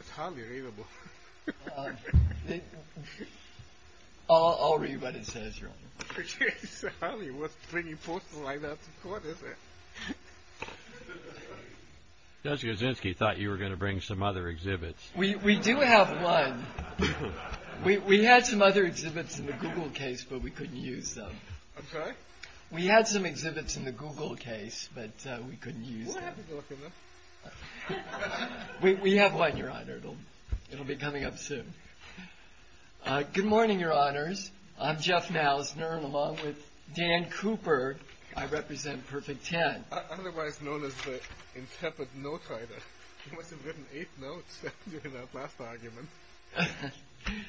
It's hardly readable. I'll read what it says, Your Honor. It's hardly worth bringing posters like that to court, is it? Judge Kaczynski thought you were going to bring some other exhibits. We do have one. We had some other exhibits in the Google case, but we couldn't use them. We'll have a look at them. We have one, Your Honor. It'll be coming up soon. Good morning, Your Honors. I'm Jeff Malsner, along with Dan Cooper. I represent Perfect Ten. Otherwise known as the intemperate note writer. He must have written eight notes during that last argument.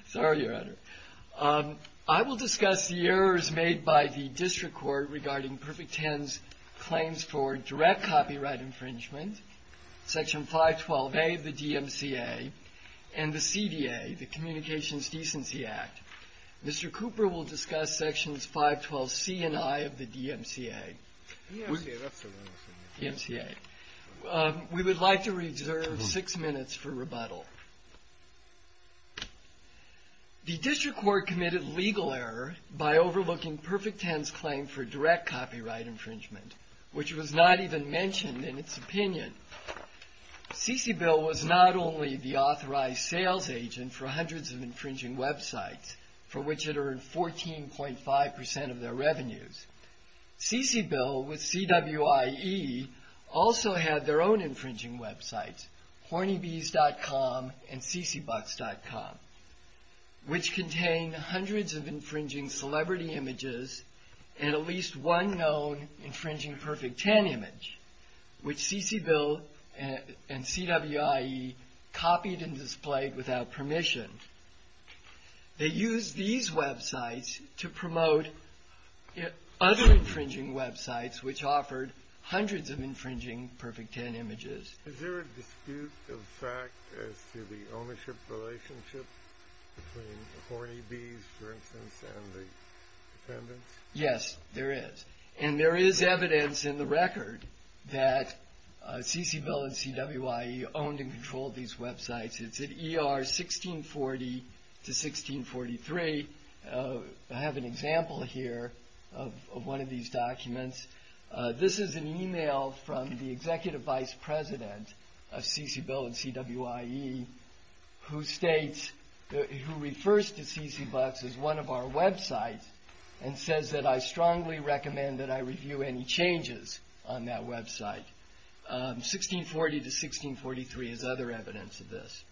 Sorry, Your Honor. I will discuss the errors made by the district court regarding Perfect Ten's claims for direct copyright infringement, Section 512A of the DMCA, and the CDA, the Communications Decency Act. Mr. Cooper will discuss Sections 512C and I of the DMCA. The district court committed legal error by overlooking Perfect Ten's claim for direct copyright infringement, which was not even mentioned in its opinion. CCBIL was not only the authorized sales agent for hundreds of infringing websites, for which it earned 14.5% of their revenues. CCBIL, with CWIE, also had their own infringing websites, hornybees.com and ccbucks.com, which contain hundreds of infringing celebrity images, and at least one known infringing Perfect Ten image, which CCBIL and CWIE copied and displayed without permission. They used these websites to promote other infringing websites, which offered hundreds of infringing Perfect Ten images. Yes, there is. And there is evidence in the record that CCBIL and CWIE owned and controlled these websites. It's at ER 1640-1643. I have an example here of one of these documents. This is an email from the Executive Vice President of CCBIL and CWIE who refers to ccbucks as one of our websites and says that I strongly recommend that I review any changes on that website. 1640-1643 is other evidence of this.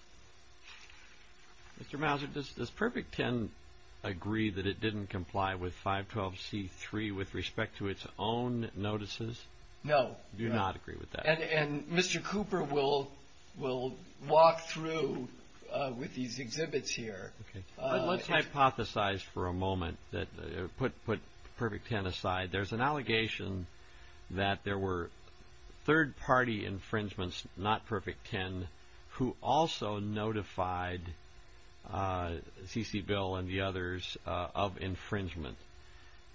Mr. Mouser, does Perfect Ten agree that it didn't comply with 512C3 with respect to its own notices? No. Do not agree with that. And Mr. Cooper will walk through with these exhibits here. Let's hypothesize for a moment, put Perfect Ten aside. There's an allegation that there were third-party infringements, not Perfect Ten, who also notified CCBIL and the others of infringement.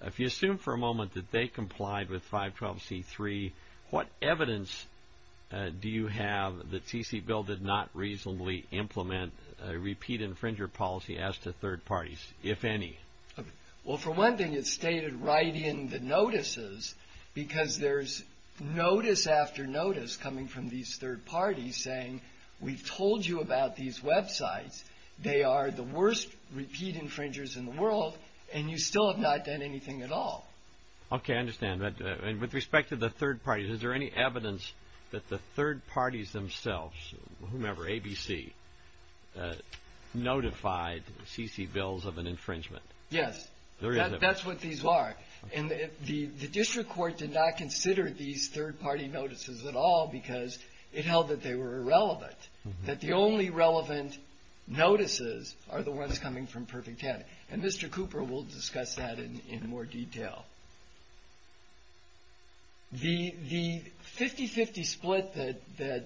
If you assume for a moment that they complied with 512C3, what evidence do you have that CCBIL did not reasonably implement a repeat infringer policy as to third parties, if any? Well, for one thing, it's stated right in the notices because there's notice after notice coming from these third parties saying we've told you about these websites, they are the worst repeat infringers in the world and you still have not done anything at all. Okay, I understand. With respect to the third parties, is there any evidence that the third parties themselves, whomever, ABC, notified CCBILs of an infringement? Yes. That's what these are. And the district court did not consider these third-party notices at all because it held that they were irrelevant, that the only relevant notices are the ones coming from Perfect Ten. And Mr. Cooper will discuss that in more detail. The 50-50 split that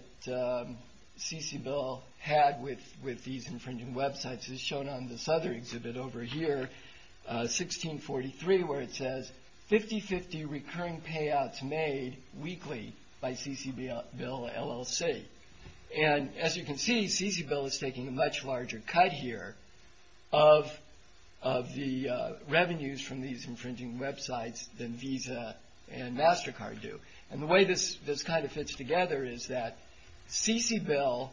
CCBIL had with these infringing websites is shown on this other exhibit over here, 1643, where it says 50-50 recurring payouts made weekly by CCBIL LLC. And as you can see, CCBIL is taking a much larger cut here of the revenues from these infringing websites than Visa and MasterCard do. And the way this kind of fits together is that CCBIL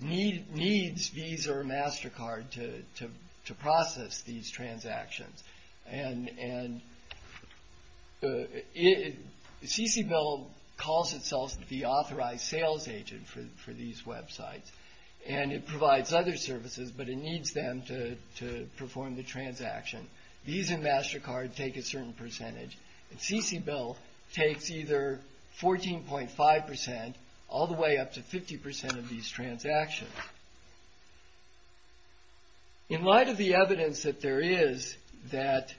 needs Visa or MasterCard to process these transactions. CCBIL calls itself the authorized sales agent for these websites and it provides other services, but it needs them to perform the transaction. Visa and MasterCard take a certain percentage, and CCBIL takes either 14.5% all the way up to 50% of these transactions. In light of the evidence that there is that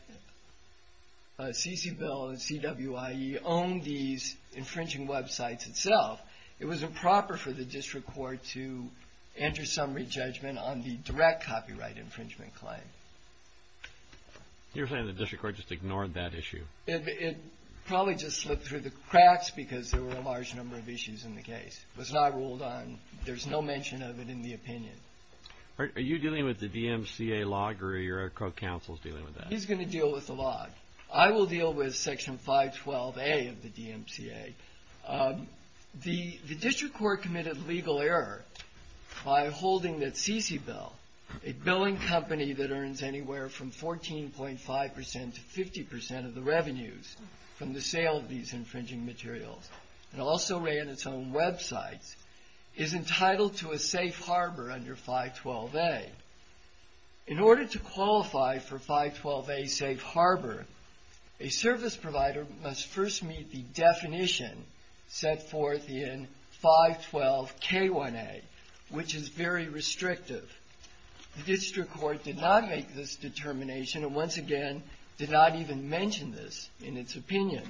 CCBIL and CWIE own these infringing websites itself, it was improper for the district court to enter summary judgment on the direct copyright infringement claim. You're saying the district court just ignored that issue? It probably just slipped through the cracks because there were a large number of issues in the case. It was not ruled on. There's no mention of it in the opinion. Are you dealing with the DMCA log or are your co-counsels dealing with that? He's going to deal with the log. I will deal with Section 512A of the DMCA. The district court committed legal error by holding that CCBIL, a billing company that earns anywhere from 14.5% to 50% of the revenues from the sale of these infringing materials, and also ran its own websites, is entitled to a safe harbor under 512A. In order to qualify for 512A safe harbor, a service provider must first meet the definition set forth in 512K1A, which is very restrictive. The district court did not make this determination and, once again, did not even mention this in its opinion.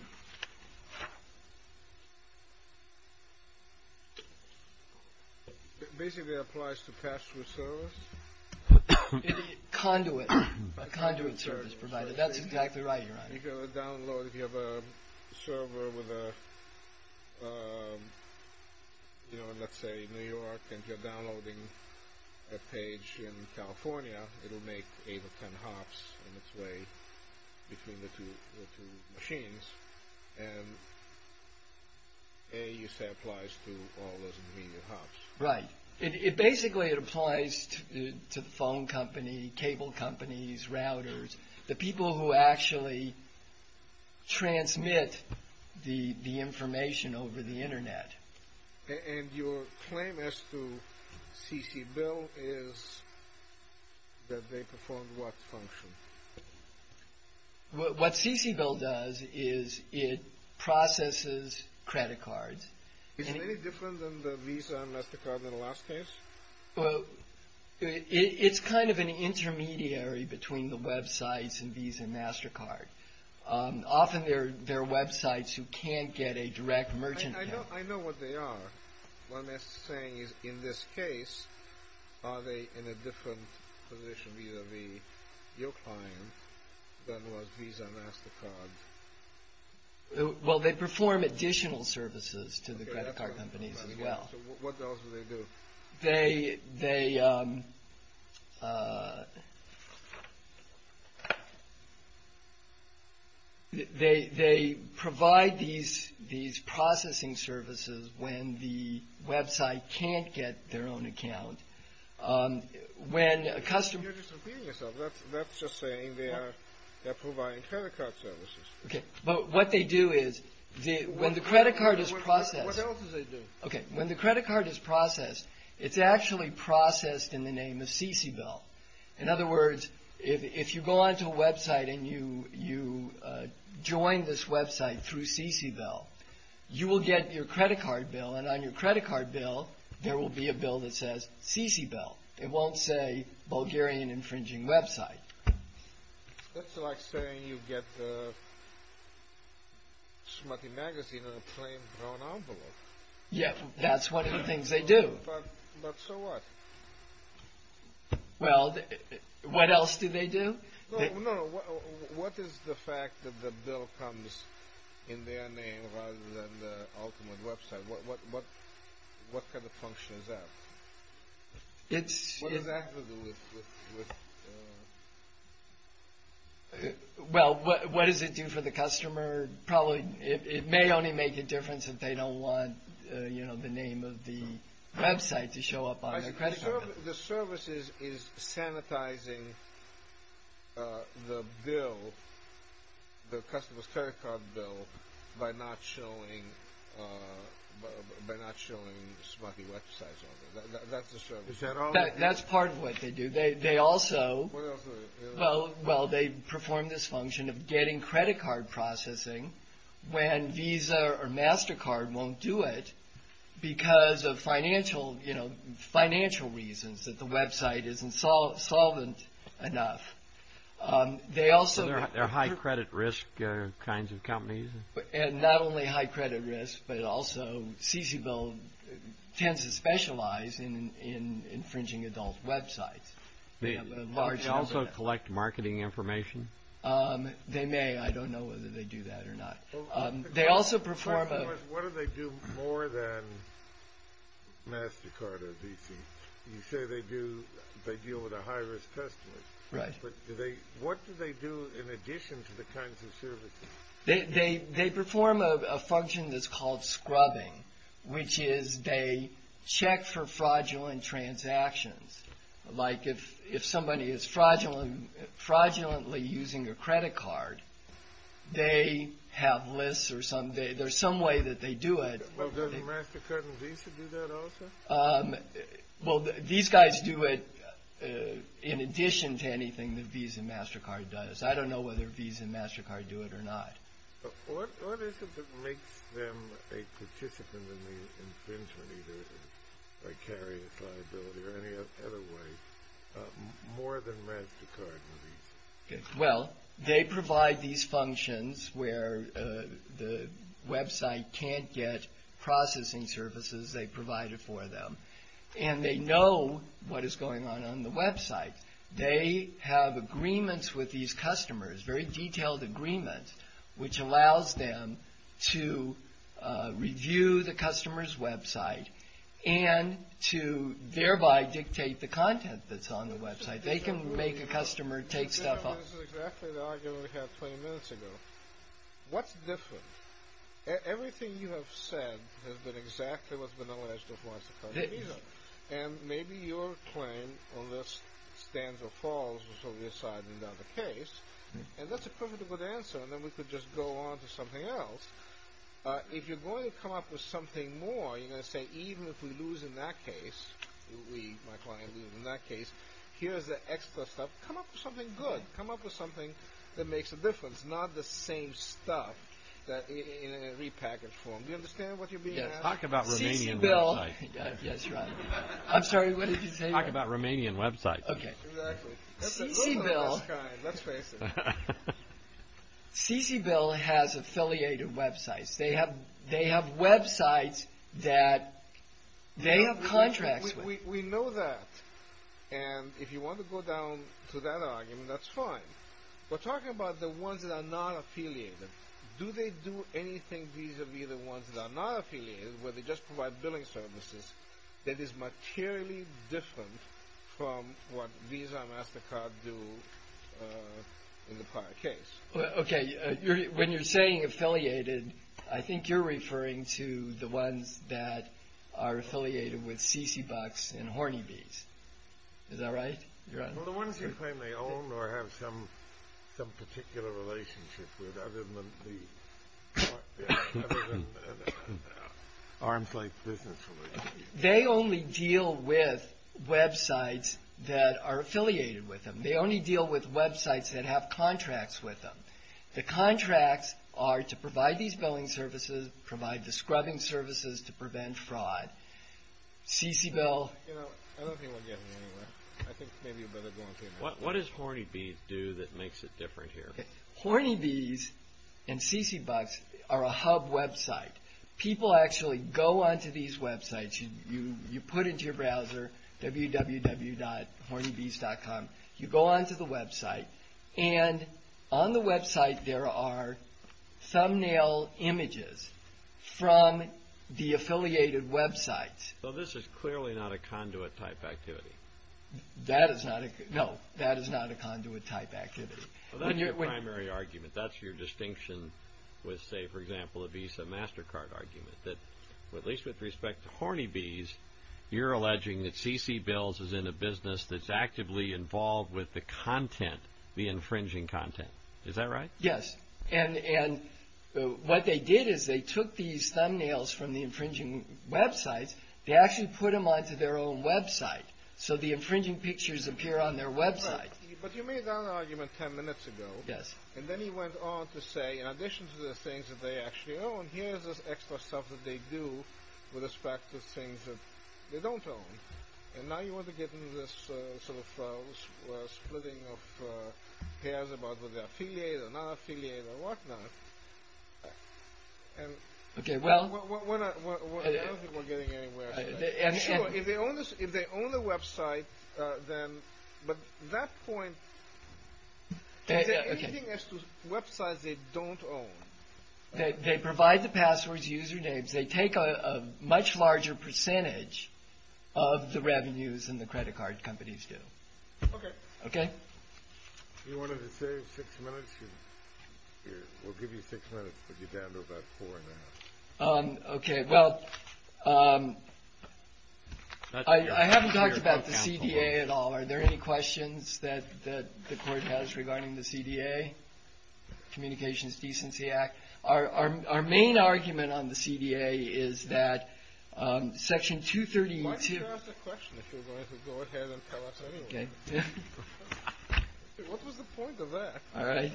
Basically, it applies to pass-through service? Conduit. A conduit service provider. That's exactly right, Your Honor. If you have a server in, let's say, New York and you're downloading a page in California, it will make eight or ten hops in its way between the two machines, and A, you say, applies to all those immediate hops. Right. Basically, it applies to the phone company, cable companies, routers, the people who actually transmit the information over the Internet. And your claim as to CCBIL is that they perform what function? What CCBIL does is it processes credit cards. Is it any different than the Visa and MasterCard in the last case? It's kind of an intermediary between the websites and Visa and MasterCard. Often, there are websites who can't get a direct merchant account. I know what they are. What I'm saying is, in this case, are they in a different position vis-a-vis your client than was Visa and MasterCard? Well, they perform additional services to the credit card companies as well. So what else do they do? They provide these processing services when the website can't get their own account. You're just impeding yourself. That's just saying they're providing credit card services. Okay. But what they do is, when the credit card is processed... It's actually processed in the name of CCBIL. In other words, if you go onto a website and you join this website through CCBIL, you will get your credit card bill, and on your credit card bill, there will be a bill that says CCBIL. It won't say Bulgarian Infringing Website. That's like saying you get a smutty magazine on a plain brown envelope. But so what? No, no. What is the fact that the bill comes in their name rather than the ultimate website? What kind of function is that? What does that have to do with... Well, what does it do for the customer? It may only make a difference if they don't want the name of the website to show up on their credit card. The service is sanitizing the bill, the customer's credit card bill, by not showing smutty websites on there. That's part of what they do. Well, they perform this function of getting credit card processing when Visa or MasterCard won't do it because of financial reasons, that the website isn't solvent enough. They're high credit risk kinds of companies? Not only high credit risk, but also CCBIL tends to specialize in infringing adult websites. They also collect marketing information? They may. I don't know whether they do that or not. What do they do more than MasterCard or Visa? You say they deal with a high risk customer, but what do they do in addition to the kinds of services? They perform a function that's called scrubbing, which is they check for fraudulent transactions. Like if somebody is fraudulently using a credit card, they have lists or there's some way that they do it. Doesn't MasterCard and Visa do that also? These guys do it in addition to anything that Visa and MasterCard does. I don't know whether Visa and MasterCard do it or not. What is it that makes them a participant in the infringement either by carrying a liability or any other way more than MasterCard and Visa? Well, they provide these functions where the website can't get processing services. They provide it for them. And they know what is going on on the website. They have agreements with these customers, very detailed agreements, which allows them to review the customer's website and to thereby dictate the content that's on the website. They can make a customer take stuff off. What's different? Everything you have said has been exactly what's been alleged with MasterCard and Visa. And maybe your claim on this stands or falls, which will be decided in another case, and that's a perfectly good answer. And then we could just go on to something else. If you're going to come up with something more, you're going to say, even if we lose in that case, my client loses in that case, here's the extra stuff. Come up with something good. Come up with something that makes a difference, not the same stuff in a repackaged form. Do you understand what you're being asked? Talk about Romanian websites. CCBIL has affiliated websites. They have websites that they have contracts with. We know that, and if you want to go down to that argument, that's fine. We're talking about the ones that are not affiliated. Do they do anything vis-a-vis the ones that are not affiliated where they just provide billing services that is materially different from what Visa and MasterCard do in the prior case? Okay, when you're saying affiliated, I think you're referring to the ones that are affiliated with CCBucks and Horny Bees. Is that right? They only deal with websites that are affiliated with them. They only deal with websites that have contracts with them. The contracts are to provide these billing services, provide the scrubbing services to prevent fraud. CCBIL... What does Horny Bees do that makes it different here? Horny Bees and CCBucks are a hub website. People actually go onto these websites. You put into your browser www.hornybees.com. You go onto the website, and on the website there are thumbnail images from the affiliated websites. This is clearly not a conduit-type activity. No, that is not a conduit-type activity. Well, that's your primary argument. That's your distinction with, say, for example, a Visa MasterCard argument. At least with respect to Horny Bees, you're alleging that CCBills is in a business that's actively involved with the content, the infringing content. Is that right? Yes, and what they did is they took these thumbnails from the infringing websites. They actually put them onto their own website, so the infringing pictures appear on their website. But you made that argument ten minutes ago. And then you went on to say, in addition to the things that they actually own, here's this extra stuff that they do with respect to things that they don't own. And now you want to get into this sort of splitting of pairs about whether they're affiliated or not affiliated or whatnot. I don't think we're getting anywhere. Sure, if they own the website, but at that point, is there anything as to websites they don't own? They provide the passwords, usernames. They take a much larger percentage of the revenues than the credit card companies do. If you wanted to save six minutes, we'll give you six minutes, but you're down to about four and a half. I haven't talked about the CDA at all. Are there any questions that the Court has regarding the CDA, Communications Decency Act? Our main argument on the CDA is that Section 232... You can ask a question if you're going to go ahead and tell us anyway. What was the point of that? My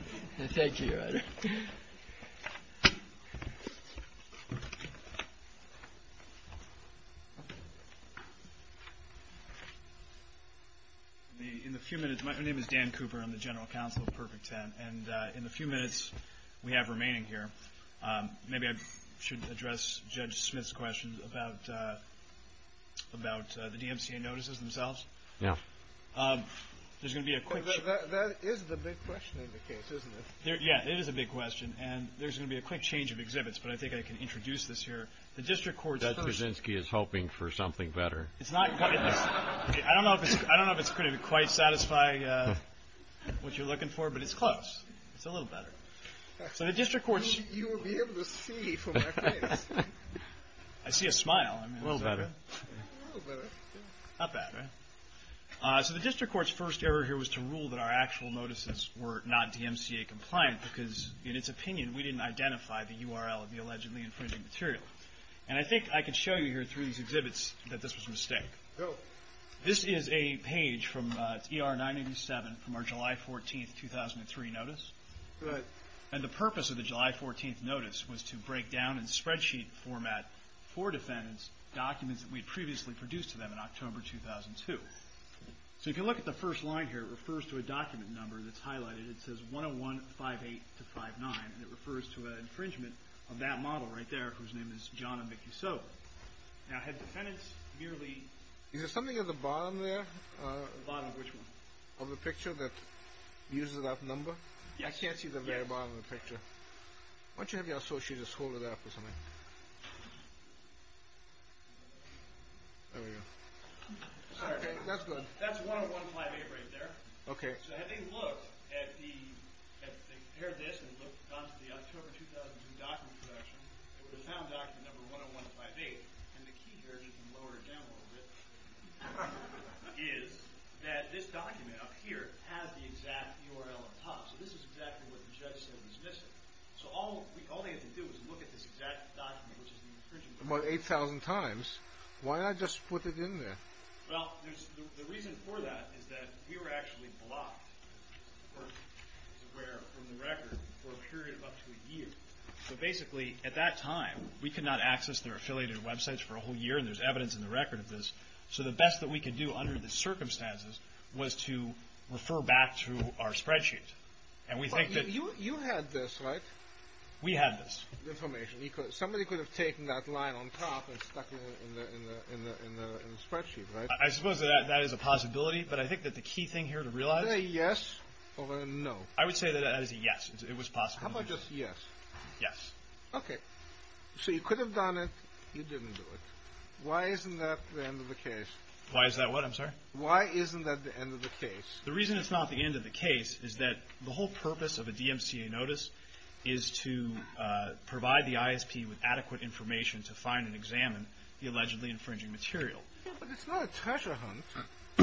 name is Dan Cooper. I'm the General Counsel of Perfect Ten. And in the few minutes we have remaining here, maybe I should address Judge Smith's question about the DMCA notices themselves. That is the big question in the case, isn't it? Yeah, it is a big question, and there's going to be a quick change of exhibits, but I think I can introduce this here. Judge Kaczynski is hoping for something better. I don't know if it's going to quite satisfy what you're looking for, but it's close. It's a little better. You will be able to see from my face. I see a smile. A little better. Not bad, right? So the District Court's first error here was to rule that our actual notices were not DMCA compliant, because in its opinion, we didn't identify the URL of the allegedly infringing material. And I think I can show you here through these exhibits that this was a mistake. This is a page from ER 987 from our July 14, 2003 notice. And the purpose of the July 14 notice was to break down in spreadsheet format for defendants documents that we had previously produced to them in October 2002. So if you look at the first line here, it refers to a document number that's highlighted. It says 101-58-59, and it refers to an infringement of that model right there, whose name is John and Vicki So. Now, had defendants merely— Is there something at the bottom there? The bottom of which one? Of the picture that uses that number? Yes. I can't see the very bottom of the picture. Why don't you have your associates hold it up or something? There we go. Sorry. That's good. That's 101-58 right there. Okay. So having looked at the—they compared this and looked down to the October 2002 document collection, they found document number 101-58, and the key here, just to lower it down a little bit, is that this document up here has the exact URL at the top. So this is exactly what the judge said was missing. So all they had to do was look at this exact document, which is the infringement. About 8,000 times. Why not just put it in there? Well, the reason for that is that we were actually blocked, of course, as you're aware, from the record for a period of up to a year. So basically, at that time, we could not access their affiliated websites for a whole year, and there's evidence in the record of this. So the best that we could do under the circumstances was to refer back to our spreadsheet. You had this, right? We had this. Somebody could have taken that line on top and stuck it in the spreadsheet, right? I suppose that is a possibility, but I think that the key thing here to realize— Is it a yes or a no? I would say that it is a yes. How about just yes? Yes. Okay. So you could have done it. You didn't do it. Why isn't that the end of the case? Why is that what, I'm sorry? Why isn't that the end of the case? The reason it's not the end of the case is that the whole purpose of a DMCA notice is to provide the ISP with adequate information to find and examine the allegedly infringing material. But it's not a treasure hunt.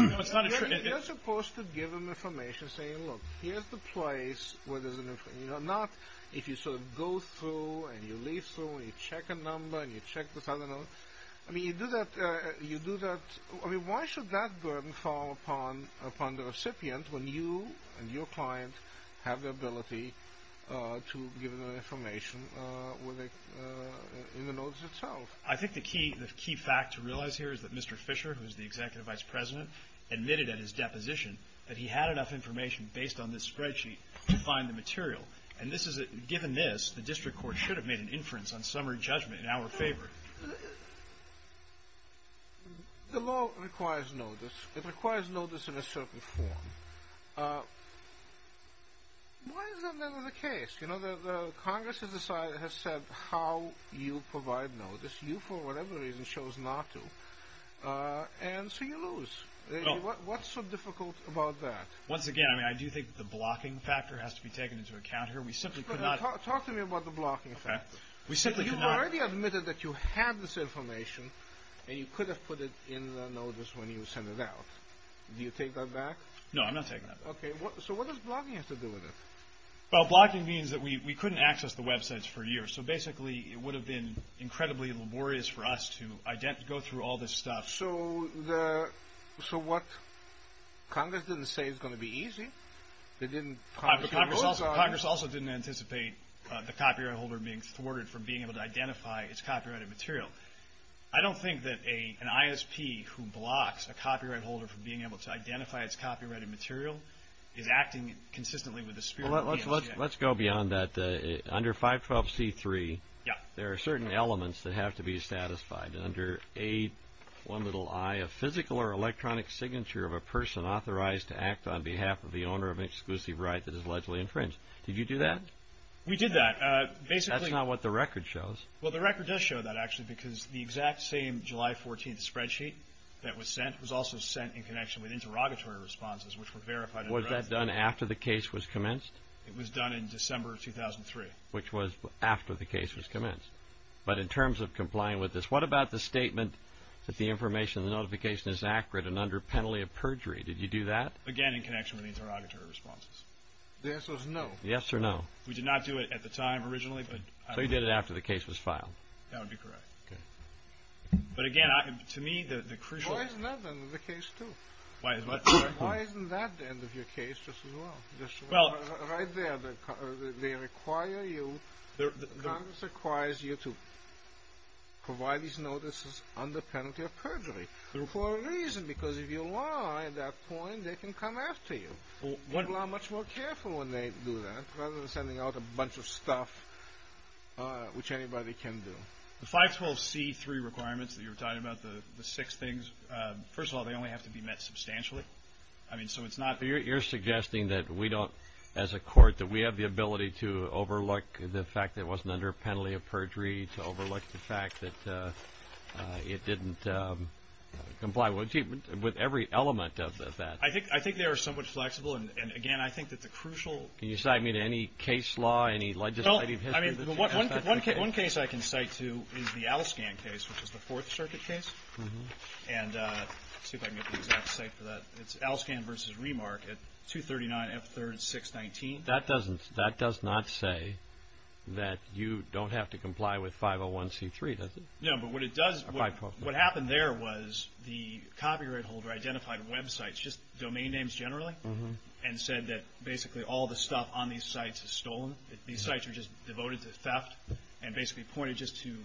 No, it's not. You're supposed to give them information saying, look, here's the place where there's an infringement. Not if you sort of go through and you leaf through and you check a number and you check this other number. I mean, you do that—I mean, why should that burden fall upon the recipient when you and your client have the ability to give them information in the notice itself? I think the key fact to realize here is that Mr. Fisher, who is the executive vice president, admitted at his deposition that he had enough information based on this spreadsheet to find the material. And given this, the district court should have made an inference on summary judgment in our favor. The law requires notice. It requires notice in a certain form. Why is that not the case? You know, the Congress has said how you provide notice. You, for whatever reason, chose not to. And so you lose. What's so difficult about that? Once again, I do think the blocking factor has to be taken into account here. We simply could not— Talk to me about the blocking factor. You've already admitted that you had this information, and you could have put it in the notice when you sent it out. Do you take that back? No, I'm not taking that back. Okay. So what does blocking have to do with it? Well, blocking means that we couldn't access the websites for years. So basically, it would have been incredibly laborious for us to go through all this stuff. So what—Congress didn't say it's going to be easy. They didn't— Congress also didn't anticipate the copyright holder being thwarted from being able to identify its copyrighted material. I don't think that an ISP who blocks a copyright holder from being able to identify its copyrighted material is acting consistently with the spirit of the ISP. Let's go beyond that. Under 512c3, there are certain elements that have to be satisfied. Under A1i, a physical or electronic signature of a person authorized to act on behalf of the owner of an exclusive right that is allegedly infringed. Did you do that? We did that. Basically— That's not what the record shows. Well, the record does show that, actually, because the exact same July 14th spreadsheet that was sent was also sent in connection with interrogatory responses, which were verified— Was that done after the case was commenced? It was done in December 2003. Which was after the case was commenced. But in terms of complying with this, what about the statement that the information in the notification is accurate and under penalty of perjury? Did you do that? Again, in connection with the interrogatory responses. The answer is no. Yes or no. We did not do it at the time, originally, but— So you did it after the case was filed. That would be correct. Okay. But again, to me, the crucial— Why isn't that the end of the case, too? Why isn't that the end of your case, just as well? Right there, they require you—Congress requires you to provide these notices under penalty of perjury. For a reason, because if you lie at that point, they can come after you. People are much more careful when they do that, rather than sending out a bunch of stuff which anybody can do. The 512C3 requirements that you were talking about, the six things, first of all, they only have to be met substantially. I mean, so it's not— You're suggesting that we don't, as a court, that we have the ability to overlook the fact that it wasn't under penalty of perjury, to overlook the fact that it didn't comply with every element of that? I think they are somewhat flexible, and again, I think that the crucial— Can you cite me to any case law, any legislative history? Well, I mean, one case I can cite to is the Alscan case, which is the Fourth Circuit case. And let's see if I can get the exact site for that. It's Alscan v. Remark at 239F3-619. Well, that doesn't—that does not say that you don't have to comply with 501C3, does it? No, but what it does—what happened there was the copyright holder identified websites, just domain names generally, and said that basically all the stuff on these sites is stolen. These sites are just devoted to theft, and basically pointed just to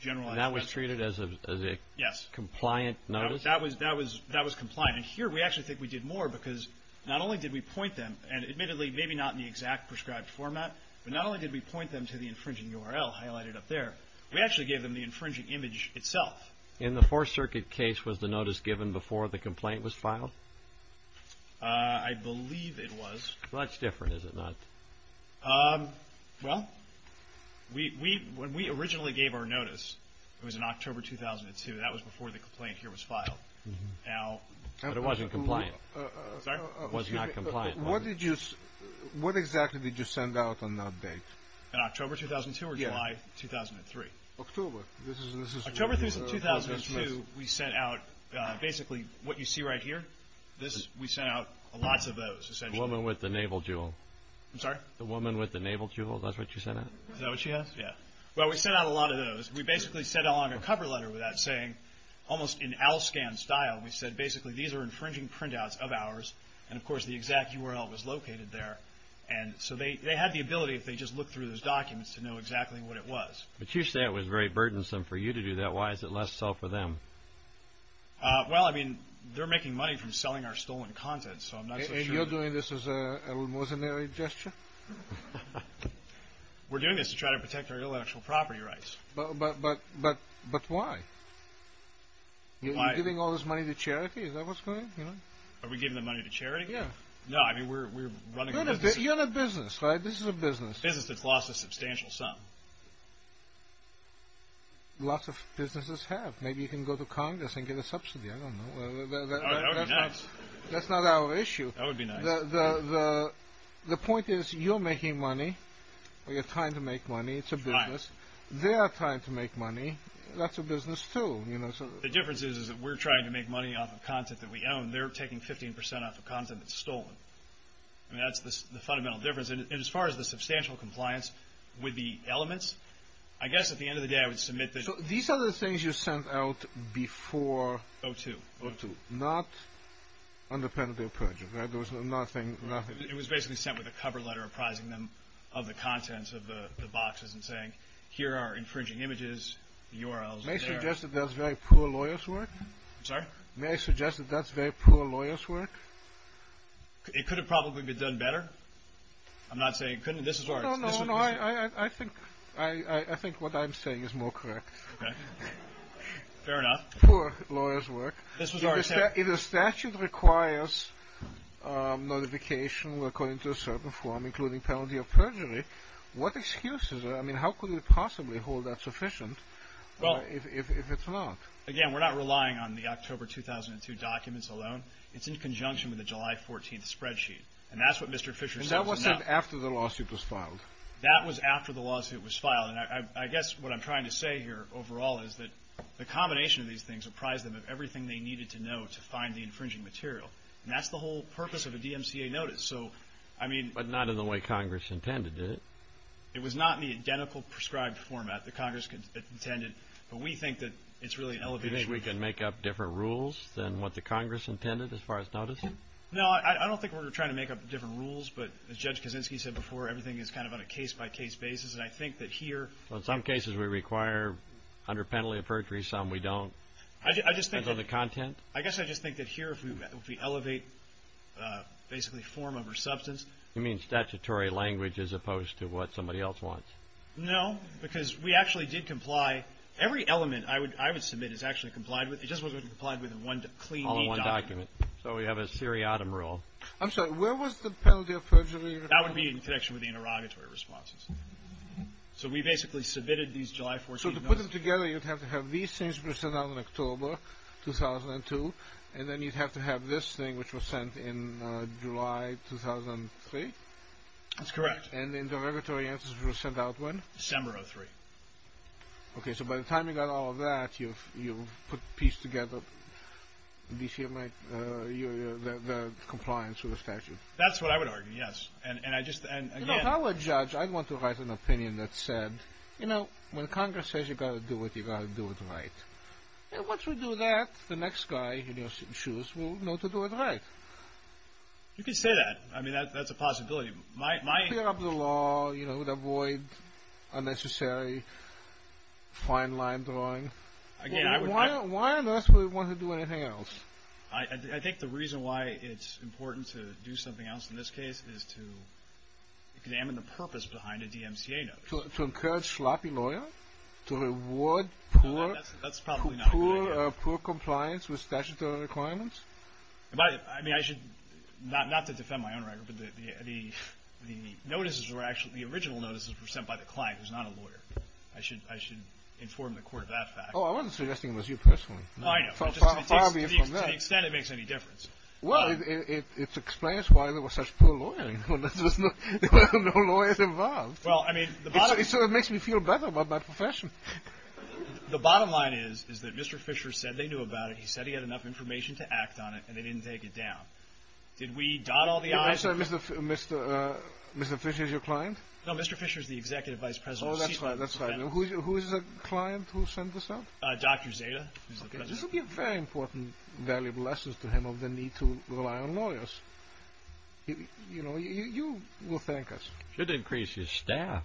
generalized theft. And that was treated as a compliant notice? Yes, that was compliant. And here, we actually think we did more because not only did we point them, and admittedly, maybe not in the exact prescribed format, but not only did we point them to the infringing URL highlighted up there, we actually gave them the infringing image itself. In the Fourth Circuit case, was the notice given before the complaint was filed? I believe it was. Well, that's different, is it not? Well, when we originally gave our notice, it was in October 2002. That was before the complaint here was filed. But it wasn't compliant. Sorry? It was not compliant. What exactly did you send out on that date? In October 2002 or July 2003? October. October 3, 2002, we sent out basically what you see right here. We sent out lots of those, essentially. The woman with the naval jewel. I'm sorry? The woman with the naval jewel, that's what you sent out? Is that what she has? Yeah. Well, we sent out a lot of those. We basically sent along a cover letter with that saying, almost in ALSCAN style, we said basically these are infringing printouts of ours, and, of course, the exact URL was located there. So they had the ability, if they just looked through those documents, to know exactly what it was. But you say it was very burdensome for you to do that. Why is it less so for them? Well, I mean, they're making money from selling our stolen content, so I'm not so sure. And you're doing this as a remissionary gesture? We're doing this to try to protect our intellectual property rights. But why? Are you giving all this money to charity? Is that what's going on? Are we giving the money to charity? Yeah. No, I mean, we're running a business. You're in a business, right? This is a business. A business that's lost a substantial sum. Lots of businesses have. Maybe you can go to Congress and get a subsidy. I don't know. That would be nice. That's not our issue. That would be nice. The point is, you're making money, or you're trying to make money. It's a business. They are trying to make money. That's a business, too. The difference is that we're trying to make money off of content that we own. They're taking 15 percent off of content that's stolen. I mean, that's the fundamental difference. And as far as the substantial compliance with the elements, I guess at the end of the day I would submit that. So these are the things you sent out before? O2. O2. Not under penalty of perjury, right? There was nothing. It was basically sent with a cover letter apprising them of the contents of the boxes and saying here are infringing images, URLs. May I suggest that that's very poor lawyer's work? I'm sorry? May I suggest that that's very poor lawyer's work? It could have probably been done better. I'm not saying it couldn't. No, no, no. I think what I'm saying is more correct. Okay. Fair enough. Poor lawyer's work. If a statute requires notification according to a certain form, including penalty of perjury, what excuse is there? I mean, how could it possibly hold that sufficient if it's not? Again, we're not relying on the October 2002 documents alone. It's in conjunction with the July 14th spreadsheet. And that's what Mr. Fisher sent us. And that was sent after the lawsuit was filed? That was after the lawsuit was filed. And I guess what I'm trying to say here overall is that the combination of these things apprise them of everything they needed to know to find the infringing material. And that's the whole purpose of a DMCA notice. So, I mean. But not in the way Congress intended, did it? It was not in the identical prescribed format that Congress intended. But we think that it's really an elevated. You think we can make up different rules than what the Congress intended as far as noticing? No, I don't think we're trying to make up different rules. But as Judge Kaczynski said before, everything is kind of on a case-by-case basis. And I think that here. So, in some cases we require under penalty of perjury. Some we don't. I just think. Under the content. I guess I just think that here if we elevate basically form over substance. You mean statutory language as opposed to what somebody else wants? No. Because we actually did comply. Every element I would submit is actually complied with. It just wasn't complied with in one clean, neat document. All in one document. So, we have a seriatim rule. I'm sorry. Where was the penalty of perjury? That would be in connection with the interrogatory responses. So, we basically submitted these July 14 notices. So, to put them together, you'd have to have these things sent out in October 2002. And then you'd have to have this thing, which was sent in July 2003? That's correct. And the interrogatory answers were sent out when? December of 2003. Okay. So, by the time you got all of that, you put a piece together. The compliance with the statute. That's what I would argue, yes. You know, if I were a judge, I'd want to write an opinion that said, you know, when Congress says you've got to do it, you've got to do it right. And once we do that, the next guy in your shoes will know to do it right. You could say that. I mean, that's a possibility. Clear up the law. You know, avoid unnecessary fine line drawing. Why on earth would we want to do anything else? I think the reason why it's important to do something else in this case is to examine the purpose behind a DMCA notice. To encourage sloppy lawyers? To reward poor compliance with statutory requirements? I mean, not to defend my own record, but the original notices were sent by the client who's not a lawyer. I should inform the court of that fact. Oh, I wasn't suggesting it was you personally. I know. To the extent it makes any difference. Well, it explains why there was such poor lawyering. There were no lawyers involved. So it makes me feel better about my profession. The bottom line is that Mr. Fisher said they knew about it. He said he had enough information to act on it, and they didn't take it down. Did we dot all the i's? Mr. Fisher is your client? No, Mr. Fisher is the executive vice president of Sheehan. Oh, that's right. Who is the client who sent this out? Dr. Zeta. This will be a very important, valuable lesson to him of the need to rely on lawyers. You know, you will thank us. Should increase his staff.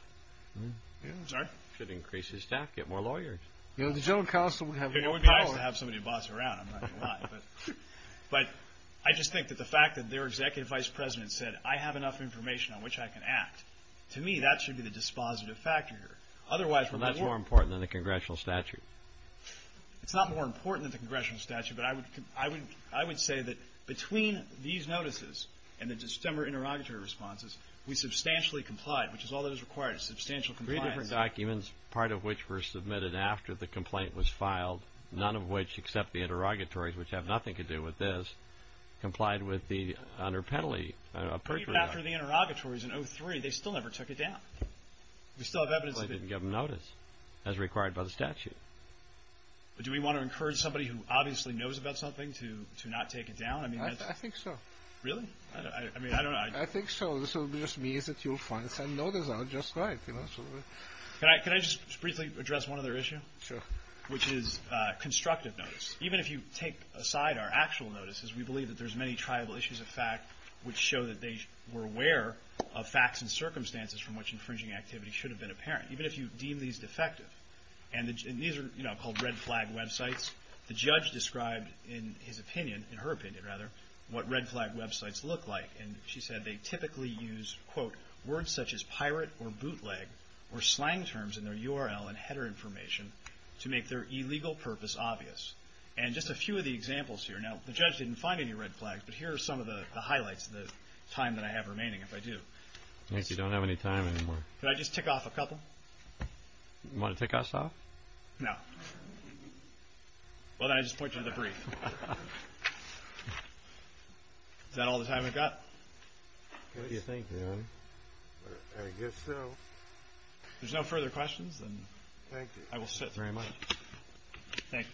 Sorry? Should increase his staff, get more lawyers. You know, the general counsel would have more lawyers. It would be nice to have somebody to boss him around. I'm not going to lie. But I just think that the fact that their executive vice president said, I have enough information on which I can act, to me that should be the dispositive factor here. Well, that's more important than the congressional statute. It's not more important than the congressional statute, but I would say that between these notices and the December interrogatory responses, we substantially complied, which is all that is required. Substantial compliance. Three different documents, part of which were submitted after the complaint was filed, none of which except the interrogatories, which have nothing to do with this, complied with the under penalty. Even after the interrogatories in 03, they still never took it down. We still have evidence of it. They didn't give him notice, as required by the statute. Do we want to encourage somebody who obviously knows about something to not take it down? I think so. Really? I mean, I don't know. I think so. This will just mean that you'll finally send notice out just right. Can I just briefly address one other issue? Sure. Which is constructive notice. Even if you take aside our actual notices, we believe that there's many tribal issues of fact which show that they were aware of facts and circumstances from which infringing activity should have been apparent, even if you deem these defective. And these are called red flag websites. The judge described in his opinion, in her opinion rather, what red flag websites look like. And she said they typically use, quote, words such as pirate or bootleg or slang terms in their URL and header information to make their illegal purpose obvious. And just a few of the examples here. Now, the judge didn't find any red flags, but here are some of the highlights of the time that I have remaining if I do. I guess you don't have any time anymore. Can I just tick off a couple? You want to tick us off? No. Well, then I'll just point you to the brief. Is that all the time we've got? What do you think, John? I guess so. If there's no further questions, then I will sit. Thank you very much. Thank you. Thank you.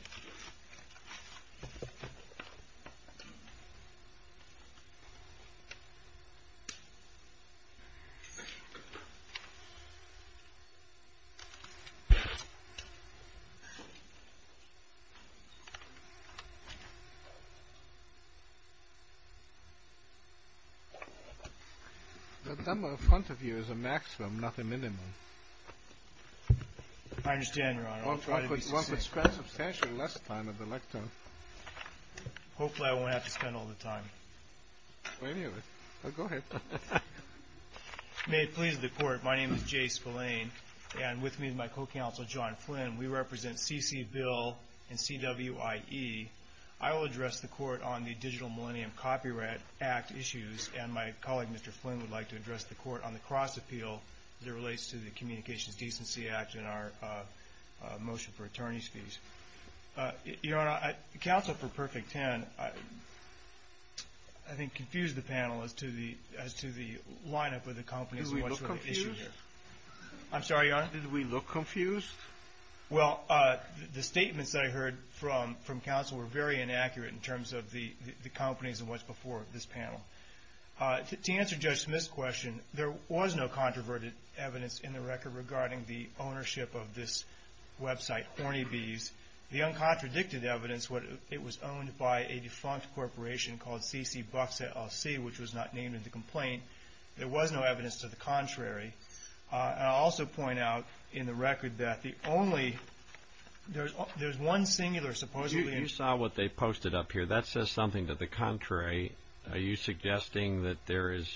The number in front of you is a maximum, not a minimum. I understand, Your Honor. One could spend substantially less time at the lectern. Hopefully I won't have to spend all the time. Go ahead. May it please the Court, my name is Jay Spillane, and with me is my co-counsel, John Flynn. We represent C.C. Bill and C.W.I.E. I will address the Court on the Digital Millennium Copyright Act issues, and my colleague, Mr. Flynn, would like to address the Court on the Cross Appeal Your Honor, counsel for Perfect Ten, I think, confused the panel as to the lineup of the companies and what's the issue here. Did we look confused? I'm sorry, Your Honor? Did we look confused? Well, the statements that I heard from counsel were very inaccurate in terms of the companies To answer Judge Smith's question, there was no controverted evidence in the record regarding the ownership of this website, Horny Bees. The uncontradicted evidence, it was owned by a defunct corporation called C.C. Bucks et al. C., which was not named in the complaint. There was no evidence to the contrary. I'll also point out in the record that the only, there's one singular supposedly You saw what they posted up here. That says something to the contrary. Are you suggesting that there is,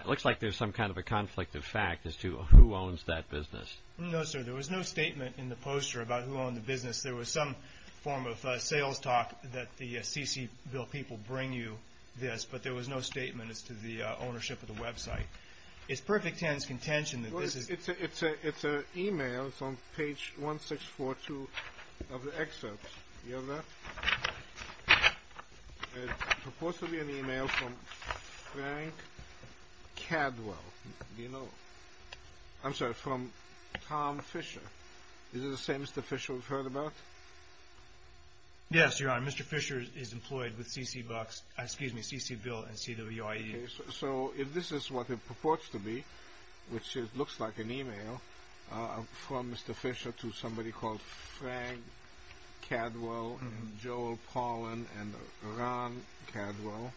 it looks like there's some kind of a conflict of fact as to who owns that business. No, sir. There was no statement in the poster about who owned the business. There was some form of sales talk that the C.C. Bill people bring you this, but there was no statement as to the ownership of the website. It's Perfect Ten's contention that this is It's an email from page 1642 of the excerpt. Do you have that? It's supposed to be an email from Frank Cadwell. Do you know? I'm sorry, from Tom Fisher. Is this the same Mr. Fisher we've heard about? Yes, Your Honor. Mr. Fisher is employed with C.C. Bucks, excuse me, C.C. Bill and C.W.I.E. So if this is what it purports to be, which it looks like an email from Mr. Fisher to somebody called Frank Cadwell and Joel Paulin and Ron Cadwell,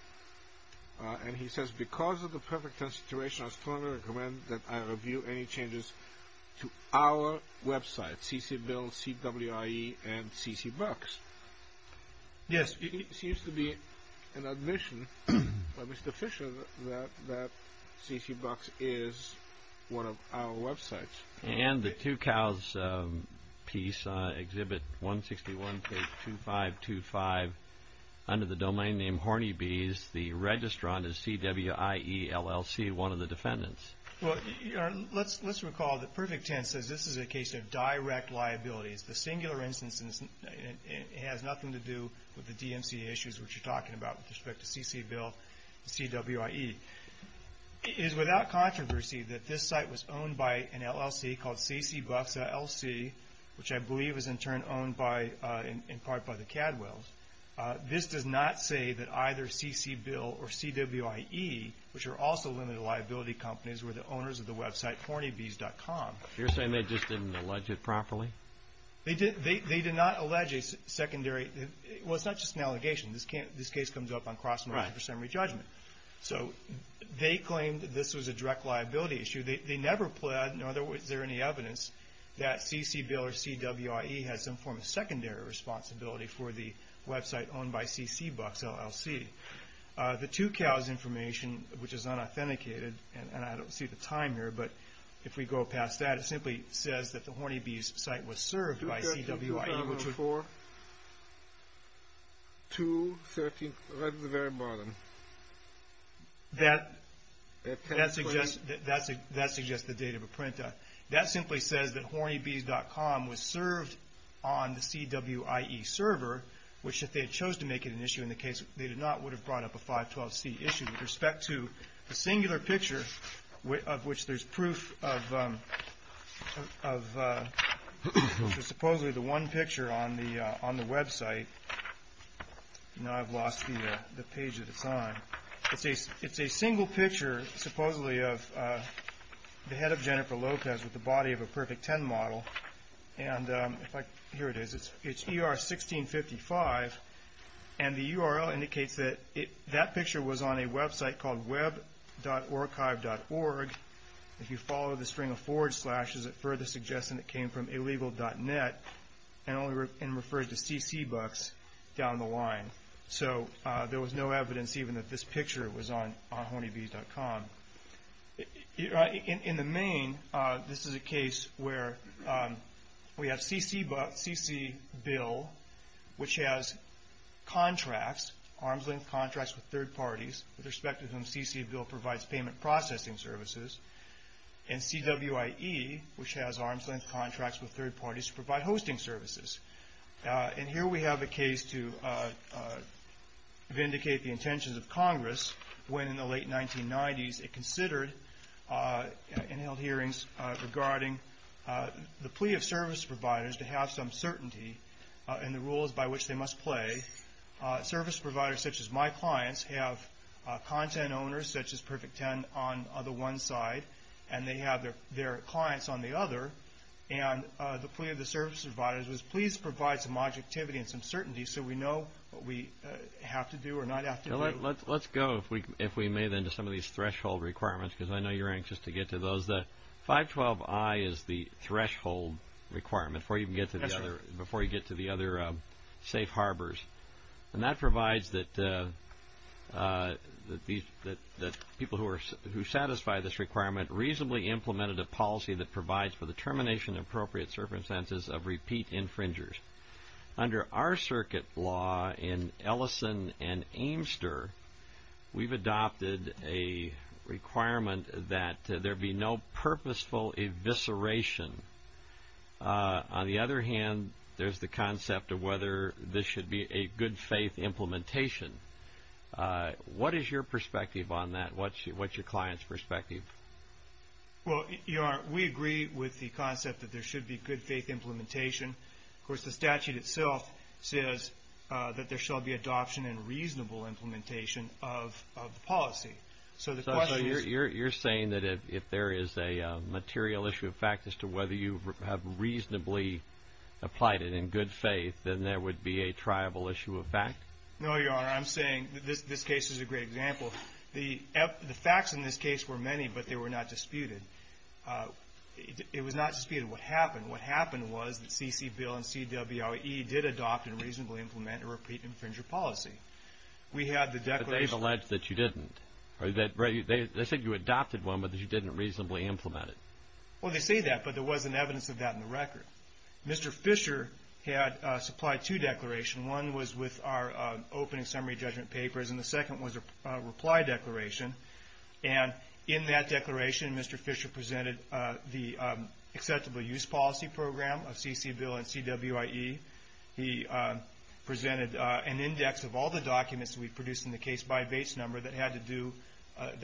and he says, because of the Perfect Ten situation, I strongly recommend that I review any changes to our website, C.C. Bill, C.W.I.E. and C.C. Bucks. Yes, it seems to be an admission by Mr. Fisher that C.C. Bucks is one of our websites. And the Two Cows piece, Exhibit 161, page 2525, under the domain name Horny Bees, the registrant is C.W.I.E., LLC, one of the defendants. Well, Your Honor, let's recall that Perfect Ten says this is a case of direct liabilities. The singular instance has nothing to do with the DMC issues, which you're talking about with respect to C.C. Bill and C.W.I.E. It is without controversy that this site was owned by an LLC called C.C. Bucks, LLC, which I believe is in turn owned in part by the Cadwells. This does not say that either C.C. Bill or C.W.I.E., which are also limited liability companies, were the owners of the website HornyBees.com. You're saying they just didn't allege it properly? They did not allege a secondary – well, it's not just an allegation. This case comes up on cross-margin presumery judgment. So they claimed that this was a direct liability issue. They never pled, nor is there any evidence that C.C. Bill or C.W.I.E. has some form of secondary responsibility for the website owned by C.C. Bucks, LLC. The two cows information, which is unauthenticated, and I don't see the time here, but if we go past that, it simply says that the Horny Bees site was served by C.W.I.E. That suggests the date of a printout. That simply says that HornyBees.com was served on the C.W.I.E. server, which if they had chose to make it an issue in the case, they would not have brought up a 512c issue. With respect to the singular picture of which there's proof of supposedly the one picture on the website. Now I've lost the page that it's on. It's a single picture, supposedly, of the head of Jennifer Lopez with the body of a Perfect 10 model. Here it is. It's ER 1655. The URL indicates that that picture was on a website called web.archive.org. If you follow the string of forward slashes, it further suggests that it came from illegal.net and referred to C.C. Bucks down the line. There was no evidence even that this picture was on HornyBees.com. In the main, this is a case where we have C.C. Bill, which has arms-length contracts with third parties, with respect to whom C.C. Bill provides payment processing services, and C.W.I.E., which has arms-length contracts with third parties to provide hosting services. Here we have a case to vindicate the intentions of Congress when in the late 1990s it considered and held hearings regarding the plea of service providers to have some certainty in the rules by which they must play. Service providers such as my clients have content owners such as Perfect 10 on the one side, and they have their clients on the other, and the plea of the service providers was please provide some objectivity and some certainty so we know what we have to do or not have to do. Let's go, if we may, then, to some of these threshold requirements, because I know you're anxious to get to those. The 512I is the threshold requirement before you get to the other safe harbors, and that provides that people who satisfy this requirement reasonably implemented a policy that provides for the termination of appropriate circumstances of repeat infringers. Under our circuit law in Ellison and Amester, we've adopted a requirement that there be no purposeful evisceration. On the other hand, there's the concept of whether this should be a good-faith implementation. What is your perspective on that? What's your client's perspective? Well, we agree with the concept that there should be good-faith implementation. Of course, the statute itself says that there shall be adoption and reasonable implementation of the policy. So the question is you're saying that if there is a material issue of fact as to whether you have reasonably applied it in good faith, then there would be a triable issue of fact? No, Your Honor. I'm saying this case is a great example. The facts in this case were many, but they were not disputed. It was not disputed what happened. What happened was the CC Bill and CWOE did adopt and reasonably implement a repeat infringer policy. We had the declaration. But they've alleged that you didn't. They said you adopted one, but that you didn't reasonably implement it. Well, they say that, but there wasn't evidence of that in the record. Mr. Fisher had supplied two declarations. One was with our opening summary judgment papers, and the second was a reply declaration. In that declaration, Mr. Fisher presented the acceptable use policy program of CC Bill and CWOE. He presented an index of all the documents we produced in the case by base number that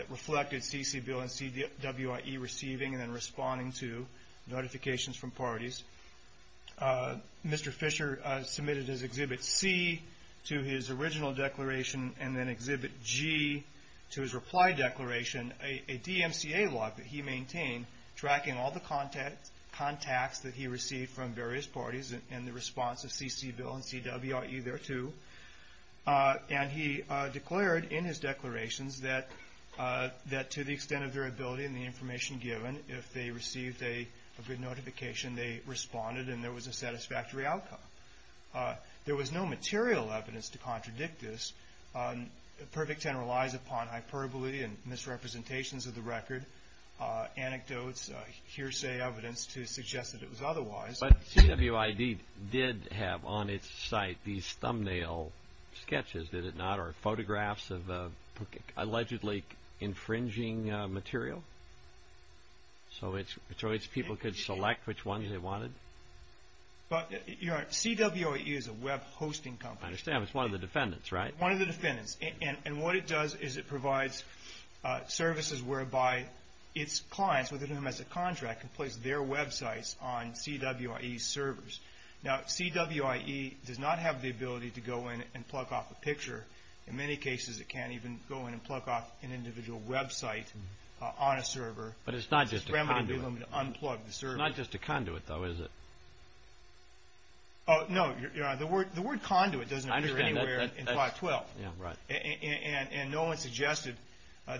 reflected CC Bill and CWOE receiving and then responding to notifications from parties. Mr. Fisher submitted his Exhibit C to his original declaration and then Exhibit G to his reply declaration, a DMCA log that he maintained, tracking all the contacts that he received from various parties in the response of CC Bill and CWOE thereto. And he declared in his declarations that to the extent of their ability and the information given, if they received a good notification, they responded and there was a satisfactory outcome. There was no material evidence to contradict this. A perfect 10 relies upon hyperbole and misrepresentations of the record, anecdotes, hearsay evidence to suggest that it was otherwise. But CWID did have on its site these thumbnail sketches, did it not, or photographs of allegedly infringing material? So its people could select which ones they wanted? CWOE is a web hosting company. I understand. It's one of the defendants, right? One of the defendants. And what it does is it provides services whereby its clients, with whom it has a contract, can place their websites on CWOE's servers. Now, CWOE does not have the ability to go in and plug off a picture. In many cases, it can't even go in and plug off an individual website on a server. But it's not just a conduit. It's not just a conduit, though, is it? No. The word conduit doesn't appear anywhere in 512. And no one suggested,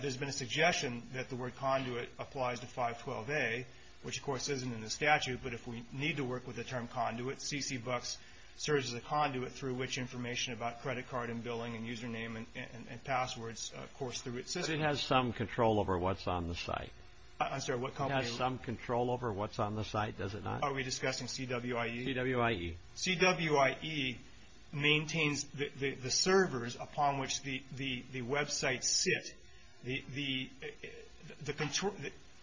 there's been a suggestion that the word conduit applies to 512A, which, of course, isn't in the statute. But if we need to work with the term conduit, CCBucks serves as a conduit through which information about credit card and billing and username and passwords, of course, through its system. So it has some control over what's on the site? I'm sorry, what company? It has some control over what's on the site, does it not? Are we discussing CWOE? CWOE. CWOE maintains the servers upon which the websites sit.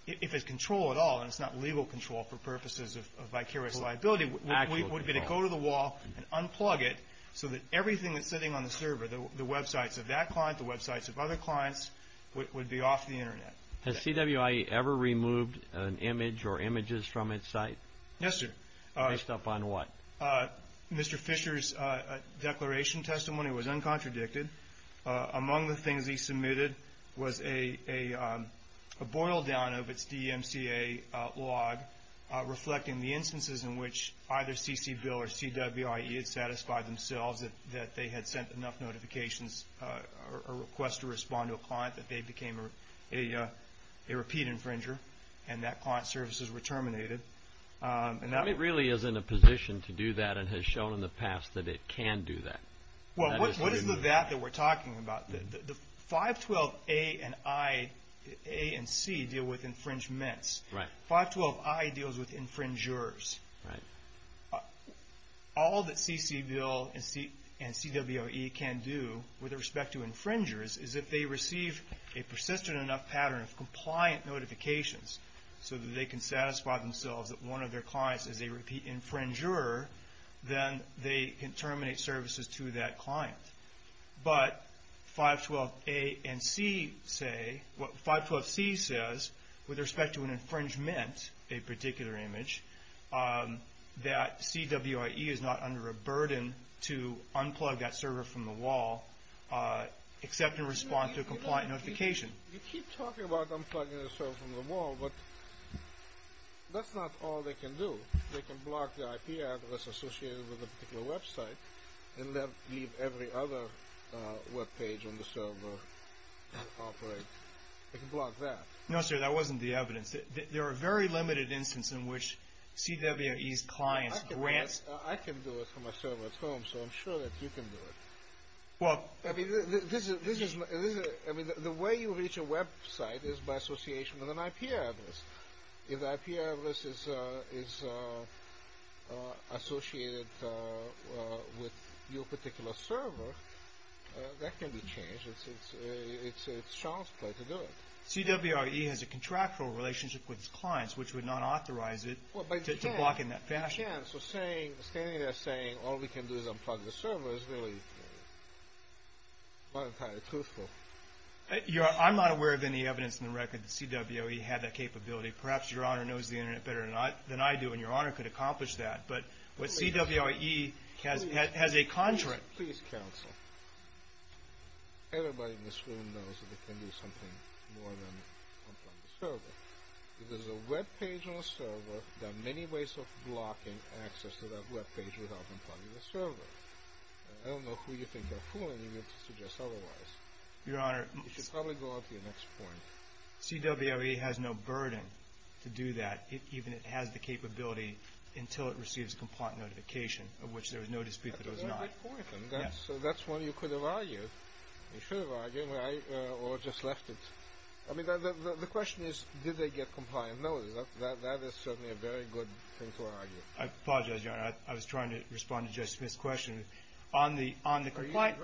If it's control at all, and it's not legal control for purposes of vicarious liability, it would be to go to the wall and unplug it so that everything that's sitting on the server, the websites of that client, the websites of other clients, would be off the Internet. Has CWOE ever removed an image or images from its site? Yes, sir. Based upon what? Mr. Fisher's declaration testimony was uncontradicted. Among the things he submitted was a boil-down of its DMCA log reflecting the instances in which either CCBill or CWOE had satisfied themselves that they had sent enough notifications or a request to respond to a client that they became a repeat infringer and that client services were terminated. It really is in a position to do that and has shown in the past that it can do that. What is the that that we're talking about? The 512A and C deal with infringements. 512I deals with infringers. All that CCBill and CWOE can do with respect to infringers is if they receive a persistent enough pattern of compliant notifications so that they can satisfy themselves that one of their clients is a repeat infringer, then they can terminate services to that client. But 512C says, with respect to an infringement, a particular image, that CWOE is not under a burden to unplug that server from the wall, accept and respond to a compliant notification. You keep talking about unplugging the server from the wall, but that's not all they can do. They can block the IP address associated with a particular website and leave every other webpage on the server to operate. They can block that. No, sir, that wasn't the evidence. There are very limited instances in which CWOE's clients grant. I can do it from my server at home, so I'm sure that you can do it. Well. I mean, the way you reach a website is by association with an IP address. If the IP address is associated with your particular server, that can be changed. It's Charles' play to do it. CWOE has a contractual relationship with its clients, which would not authorize it to block in that fashion. Well, but you can. You can. So standing there saying all we can do is unplug the server is really not entirely truthful. I'm not aware of any evidence in the record that CWOE had that capability. Perhaps Your Honor knows the Internet better than I do, and Your Honor could accomplish that. But CWOE has a contract. Please, counsel. Everybody in this room knows that they can do something more than unplug the server. If there's a web page on a server, there are many ways of blocking access to that web page without unplugging the server. I don't know who you think you're fooling, even to suggest otherwise. Your Honor. You should probably go on to your next point. CWOE has no burden to do that, even if it has the capability, until it receives a complaint notification, of which there is no dispute that it does not. That's a good point. That's one you could have argued. You should have argued, or just left it. I mean, the question is, did they get compliant notice? That is certainly a very good thing to argue. I apologize, Your Honor. I was trying to respond to Judge Smith's question. Are you dividing your time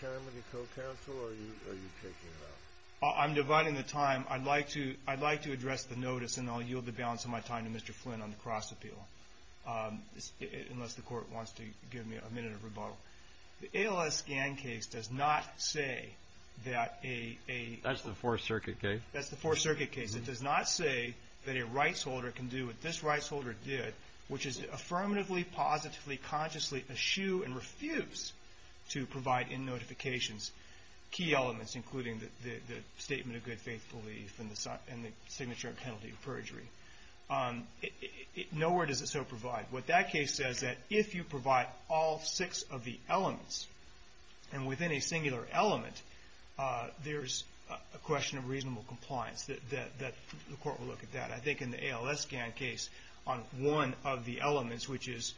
with your co-counsel, or are you taking it out? I'm dividing the time. I'd like to address the notice, and I'll yield the balance of my time to Mr. Flynn on the cross-appeal, unless the Court wants to give me a minute of rebuttal. The ALS scan case does not say that a- That's the Fourth Circuit case. That's the Fourth Circuit case. It does not say that a rights holder can do what this rights holder did, which is affirmatively, positively, consciously eschew and refuse to provide in notifications key elements, including the statement of good faith belief and the signature of penalty of perjury. Nowhere does it so provide. What that case says is that if you provide all six of the elements, and within a singular element, there's a question of reasonable compliance. The Court will look at that. I think in the ALS scan case, on one of the elements, which is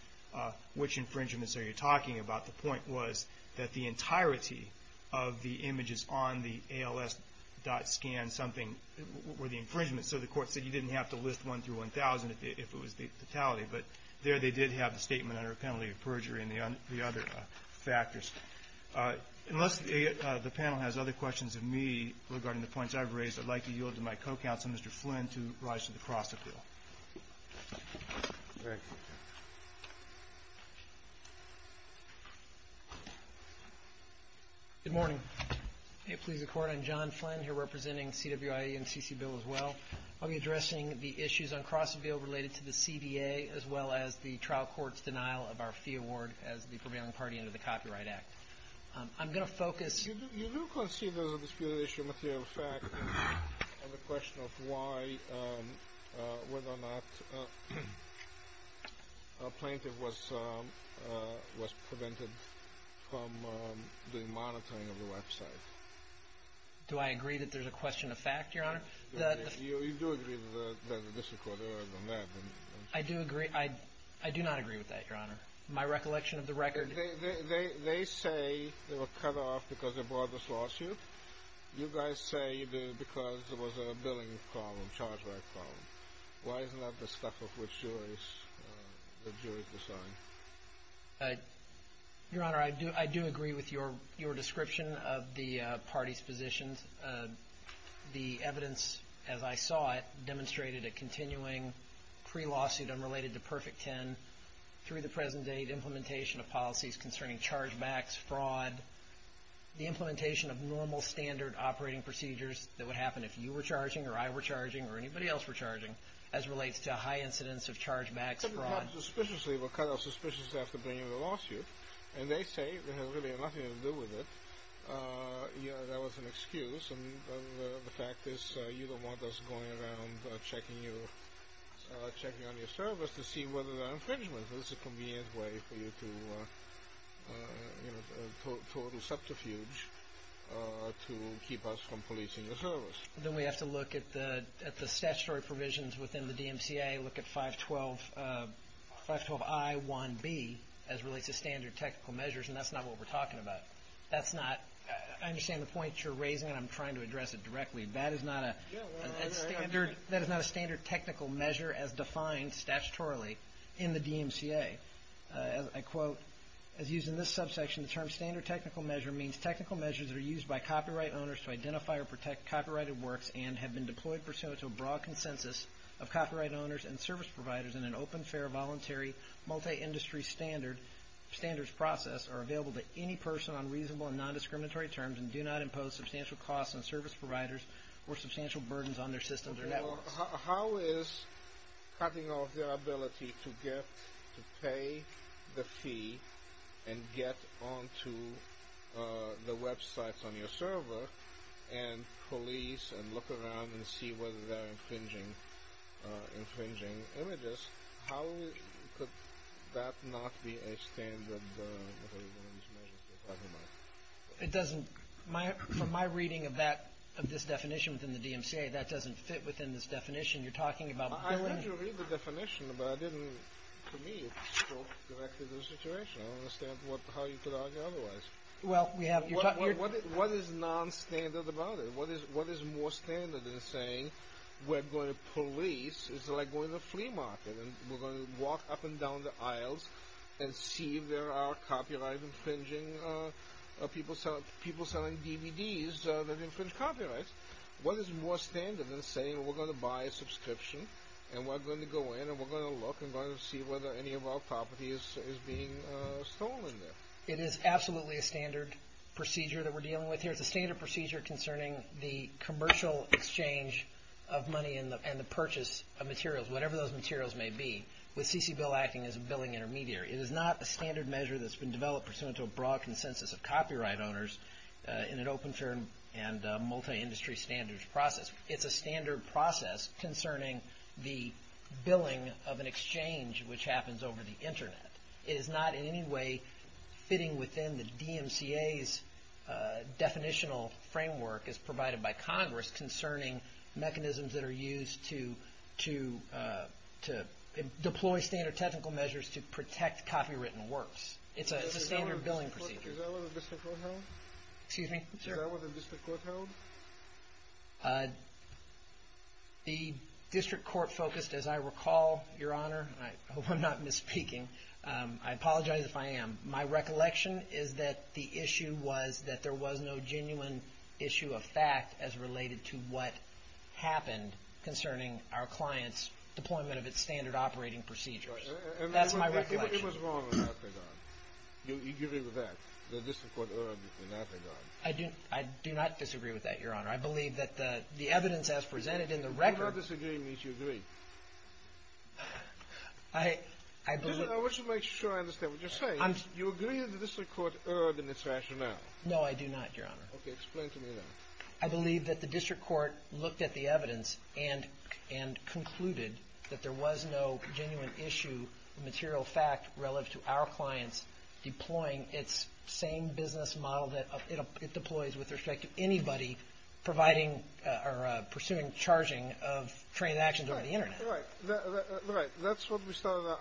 which infringements are you talking about, the point was that the entirety of the images on the ALS.scan something were the infringements. So the Court said you didn't have to list one through 1,000 if it was the totality. But there they did have the statement under penalty of perjury and the other factors. Unless the panel has other questions of me regarding the points I've raised, I'd like to yield to my co-counsel, Mr. Flynn, to rise to the cross-appeal. Good morning. May it please the Court. I'm John Flynn, here representing CWI and CC Bill as well. I'll be addressing the issues on cross-appeal related to the CBA, as well as the trial court's denial of our fee award as the prevailing party under the Copyright Act. I'm going to focus. You do concede there's a disputed issue of material fact, and the question of why, whether or not a plaintiff was prevented from doing monitoring of the website. Do I agree that there's a question of fact, Your Honor? You do agree that there's a disaccord on that. I do agree. I do not agree with that, Your Honor. My recollection of the record. They say they were cut off because they brought this lawsuit. You guys say because there was a billing problem, charge-back problem. Why isn't that the stuff of which the jury's deciding? Your Honor, I do agree with your description of the party's positions. The evidence, as I saw it, demonstrated a continuing pre-lawsuit unrelated to Perfect Ten. Through the present date, implementation of policies concerning charge-backs, fraud, the implementation of normal standard operating procedures that would happen if you were charging or I were charging or anybody else were charging, as relates to high incidence of charge-backs, fraud. They were cut off suspiciously after bringing the lawsuit, and they say it had really nothing to do with it. Your Honor, that was an excuse. The fact is you don't want us going around checking on your service to see whether there are infringements. This is a convenient way for you to total subterfuge to keep us from policing your service. Then we have to look at the statutory provisions within the DMCA, look at 512I1B as relates to standard technical measures, and that's not what we're talking about. I understand the point you're raising, and I'm trying to address it directly. That is not a standard technical measure as defined statutorily in the DMCA. I quote, as used in this subsection, the term standard technical measure means technical measures that are used by copyright owners to identify or protect copyrighted works and have been deployed pursuant to a broad consensus of copyright owners and service providers in an open, fair, voluntary, multi-industry standards process are available to any person on reasonable and non-discriminatory terms and do not impose substantial costs on service providers or substantial burdens on their systems or networks. How is cutting off their ability to pay the fee and get onto the websites on your server and police and look around and see whether they're infringing images, how could that not be a standard measure? It doesn't, from my reading of this definition within the DMCA, that doesn't fit within this definition you're talking about. I read the definition, but I didn't, to me, it's still directly the situation. I don't understand how you could argue otherwise. What is non-standard about it? What is more standard than saying we're going to police, it's like going to the flea market, and we're going to walk up and down the aisles and see if there are copyright infringing people selling DVDs that infringe copyright? What is more standard than saying we're going to buy a subscription and we're going to go in and we're going to look and we're going to see whether any of our property is being stolen there? It is absolutely a standard procedure that we're dealing with here. It's a standard procedure concerning the commercial exchange of money and the purchase of materials, whatever those materials may be, with CCBIL acting as a billing intermediary. It is not a standard measure that's been developed pursuant to a broad consensus of copyright owners in an open firm and multi-industry standards process. It's a standard process concerning the billing of an exchange which happens over the Internet. It is not in any way fitting within the DMCA's definitional framework as provided by Congress concerning mechanisms that are used to deploy standard technical measures to protect copywritten works. It's a standard billing procedure. Is that what the district court held? Excuse me? Is that what the district court held? The district court focused, as I recall, Your Honor, and I hope I'm not misspeaking. I apologize if I am. My recollection is that the issue was that there was no genuine issue of fact as related to what happened concerning our client's deployment of its standard operating procedures. That's my recollection. It was wrong in that regard. Do you agree with that? The district court erred in that regard. I do not disagree with that, Your Honor. I believe that the evidence as presented in the record. Do not disagree means you agree. I believe. I wish to make sure I understand what you're saying. Do you agree that the district court erred in its rationale? No, I do not, Your Honor. Okay. Explain to me that. I believe that the district court looked at the evidence and concluded that there was no genuine issue relative to our client's deploying its same business model that it deploys with respect to anybody pursuing charging of transactions over the Internet. Right. That's what I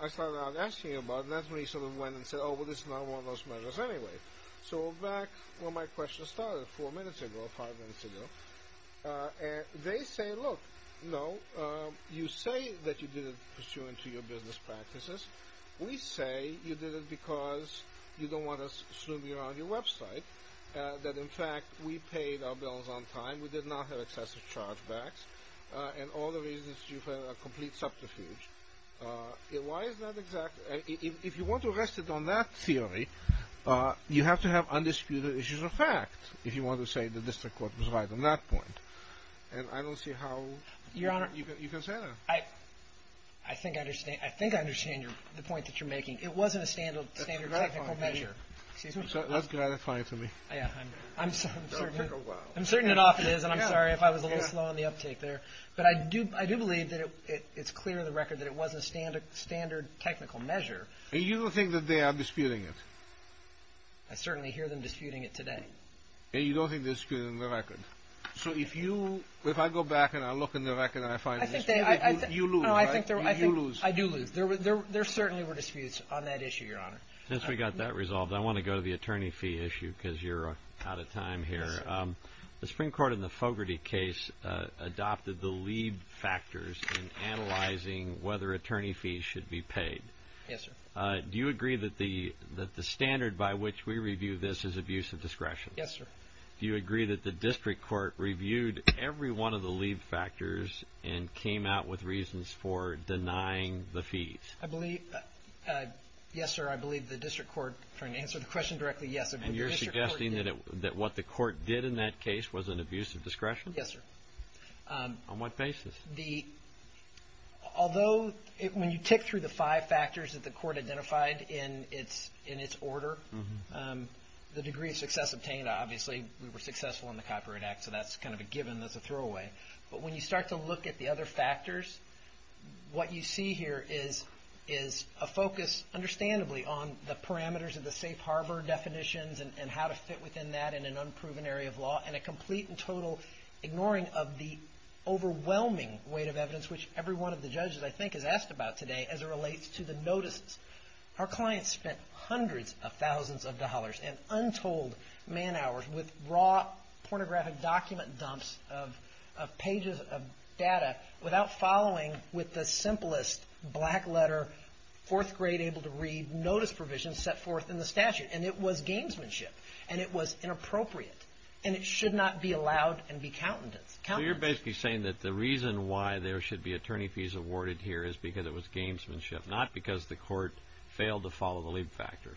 started out asking you about, and that's when you sort of went and said, oh, well, this is not one of those measures anyway. So back where my question started four minutes ago, five minutes ago, they say, look, no, you say that you did it pursuant to your business practices. We say you did it because you don't want us snooping around your website, that, in fact, we paid our bills on time, we did not have excessive chargebacks, and all the reasons you have a complete subterfuge. Why is that exactly? If you want to rest it on that theory, you have to have undisputed issues of fact. If you want to say the district court was right on that point. And I don't see how you can say that. I think I understand the point that you're making. It wasn't a standard technical measure. That's gratifying to me. I'm certain it often is, and I'm sorry if I was a little slow on the uptake there. But I do believe that it's clear on the record that it wasn't a standard technical measure. And you don't think that they are disputing it? I certainly hear them disputing it today. And you don't think they're disputing the record? So if I go back and I look in the record and I find a dispute, you lose, right? You lose. I do lose. There certainly were disputes on that issue, Your Honor. Since we got that resolved, I want to go to the attorney fee issue because you're out of time here. The Supreme Court in the Fogarty case adopted the lead factors in analyzing whether attorney fees should be paid. Yes, sir. Do you agree that the standard by which we review this is abuse of discretion? Yes, sir. Do you agree that the district court reviewed every one of the lead factors and came out with reasons for denying the fees? Yes, sir. I believe the district court, trying to answer the question directly, yes. And you're suggesting that what the court did in that case was an abuse of discretion? Yes, sir. On what basis? Although when you tick through the five factors that the court identified in its order, the degree of success obtained, obviously we were successful in the Copyright Act, so that's kind of a given, that's a throwaway. But when you start to look at the other factors, what you see here is a focus, understandably, on the parameters of the safe harbor definitions and how to fit within that in an unproven area of law, and a complete and total ignoring of the overwhelming weight of evidence, which every one of the judges, I think, has asked about today as it relates to the notices. Our clients spent hundreds of thousands of dollars and untold man hours with raw pornographic document dumps of pages of data without following with the simplest black letter, fourth grade able to read notice provision set forth in the statute. And it was gamesmanship. And it was inappropriate. And it should not be allowed and be countenanced. So you're basically saying that the reason why there should be attorney fees awarded here is because it was gamesmanship, not because the court failed to follow the lead factor.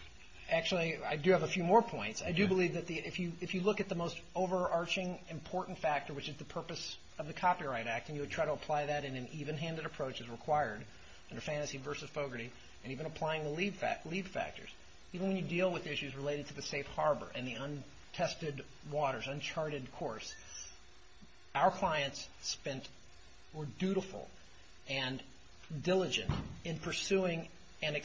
Actually, I do have a few more points. I do believe that if you look at the most overarching important factor, which is the purpose of the Copyright Act, and you would try to apply that in an even-handed approach as required under Fantasy v. Fogarty, and even applying the lead factors, even when you deal with issues related to the safe harbor and the untested waters, uncharted course, our clients were dutiful and diligent in pursuing and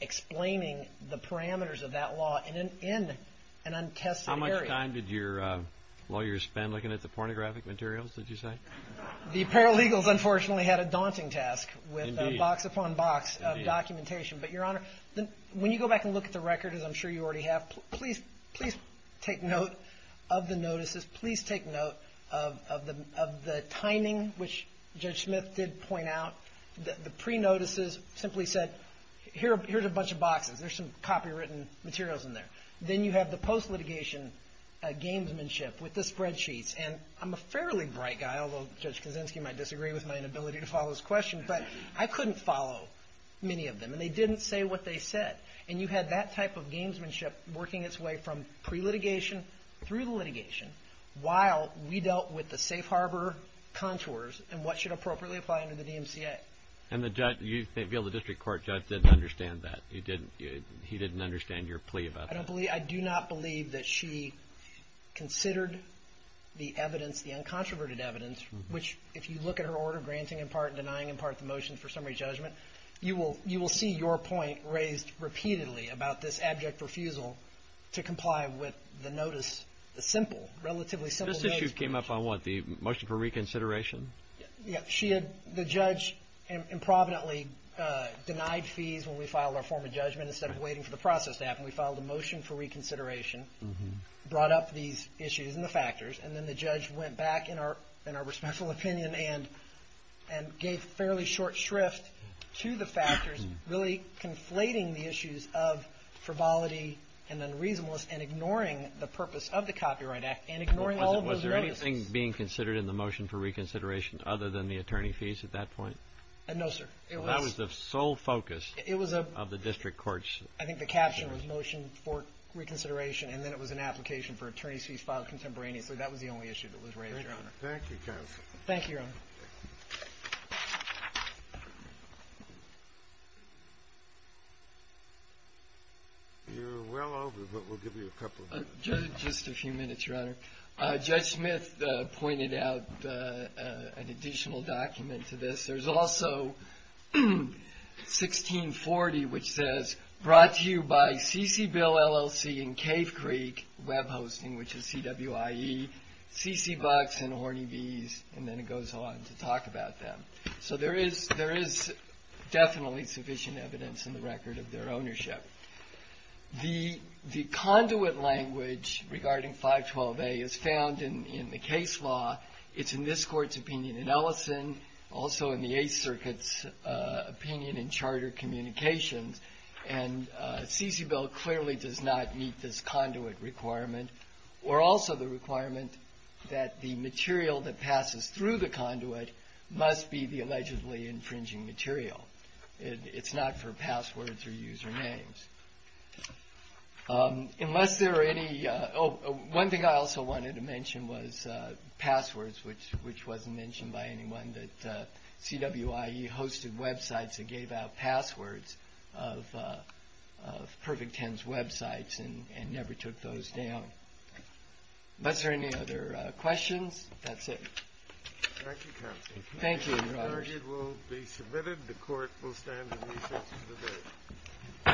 explaining the parameters of that law in an untested area. How much time did your lawyers spend looking at the pornographic materials, did you say? The paralegals, unfortunately, had a daunting task with box upon box of documentation. But, Your Honor, when you go back and look at the record, as I'm sure you already have, please take note of the notices, please take note of the timing, which Judge Smith did point out. The pre-notices simply said, here's a bunch of boxes. There's some copywritten materials in there. Then you have the post-litigation gamesmanship with the spreadsheets. And I'm a fairly bright guy, although Judge Kaczynski might disagree with my inability to follow his question, but I couldn't follow many of them, and they didn't say what they said. And you had that type of gamesmanship working its way from pre-litigation through the litigation, while we dealt with the safe harbor contours and what should appropriately apply under the DMCA. And the judge, you may feel the district court judge didn't understand that. He didn't understand your plea about that. I do not believe that she considered the evidence, the uncontroverted evidence, which if you look at her order granting in part and denying in part the motion for summary judgment, you will see your point raised repeatedly about this abject refusal to comply with the notice, the simple, relatively simple notice. This issue came up on what, the motion for reconsideration? Yeah. She had the judge improvidently denied fees when we filed our form of judgment instead of waiting for the process to happen. We filed a motion for reconsideration, brought up these issues and the factors, and then the judge went back in our responsible opinion and gave fairly short shrift to the factors, really conflating the issues of frivolity and unreasonableness and ignoring the purpose of the Copyright Act and ignoring all of those notices. Was there anything being considered in the motion for reconsideration other than the attorney fees at that point? No, sir. That was the sole focus of the district courts. I think the caption was motion for reconsideration, and then it was an application for attorney fees filed contemporaneously. That was the only issue that was raised, Your Honor. Thank you, counsel. Thank you, Your Honor. You're well over, but we'll give you a couple of minutes. Just a few minutes, Your Honor. Judge Smith pointed out an additional document to this. There's also 1640, which says, brought to you by C.C. Bill, LLC, and Cave Creek Web Hosting, which is CWIE, C.C. Bucks, and Horny Bees, and then it goes on to talk about them. So there is definitely sufficient evidence in the record of their ownership. The conduit language regarding 512A is found in the case law. It's in this Court's opinion in Ellison, also in the Eighth Circuit's opinion in Charter Communications, and C.C. Bill clearly does not meet this conduit requirement, or also the requirement that the material that passes through the conduit must be the allegedly infringing material. It's not for passwords or usernames. Unless there are any... Oh, one thing I also wanted to mention was passwords, which wasn't mentioned by anyone, that CWIE hosted websites that gave out passwords of Perfect Ten's websites and never took those down. Unless there are any other questions, that's it. Thank you, Counsel. Thank you, Your Honor. The argument will be submitted. The Court will stand in recess until the day.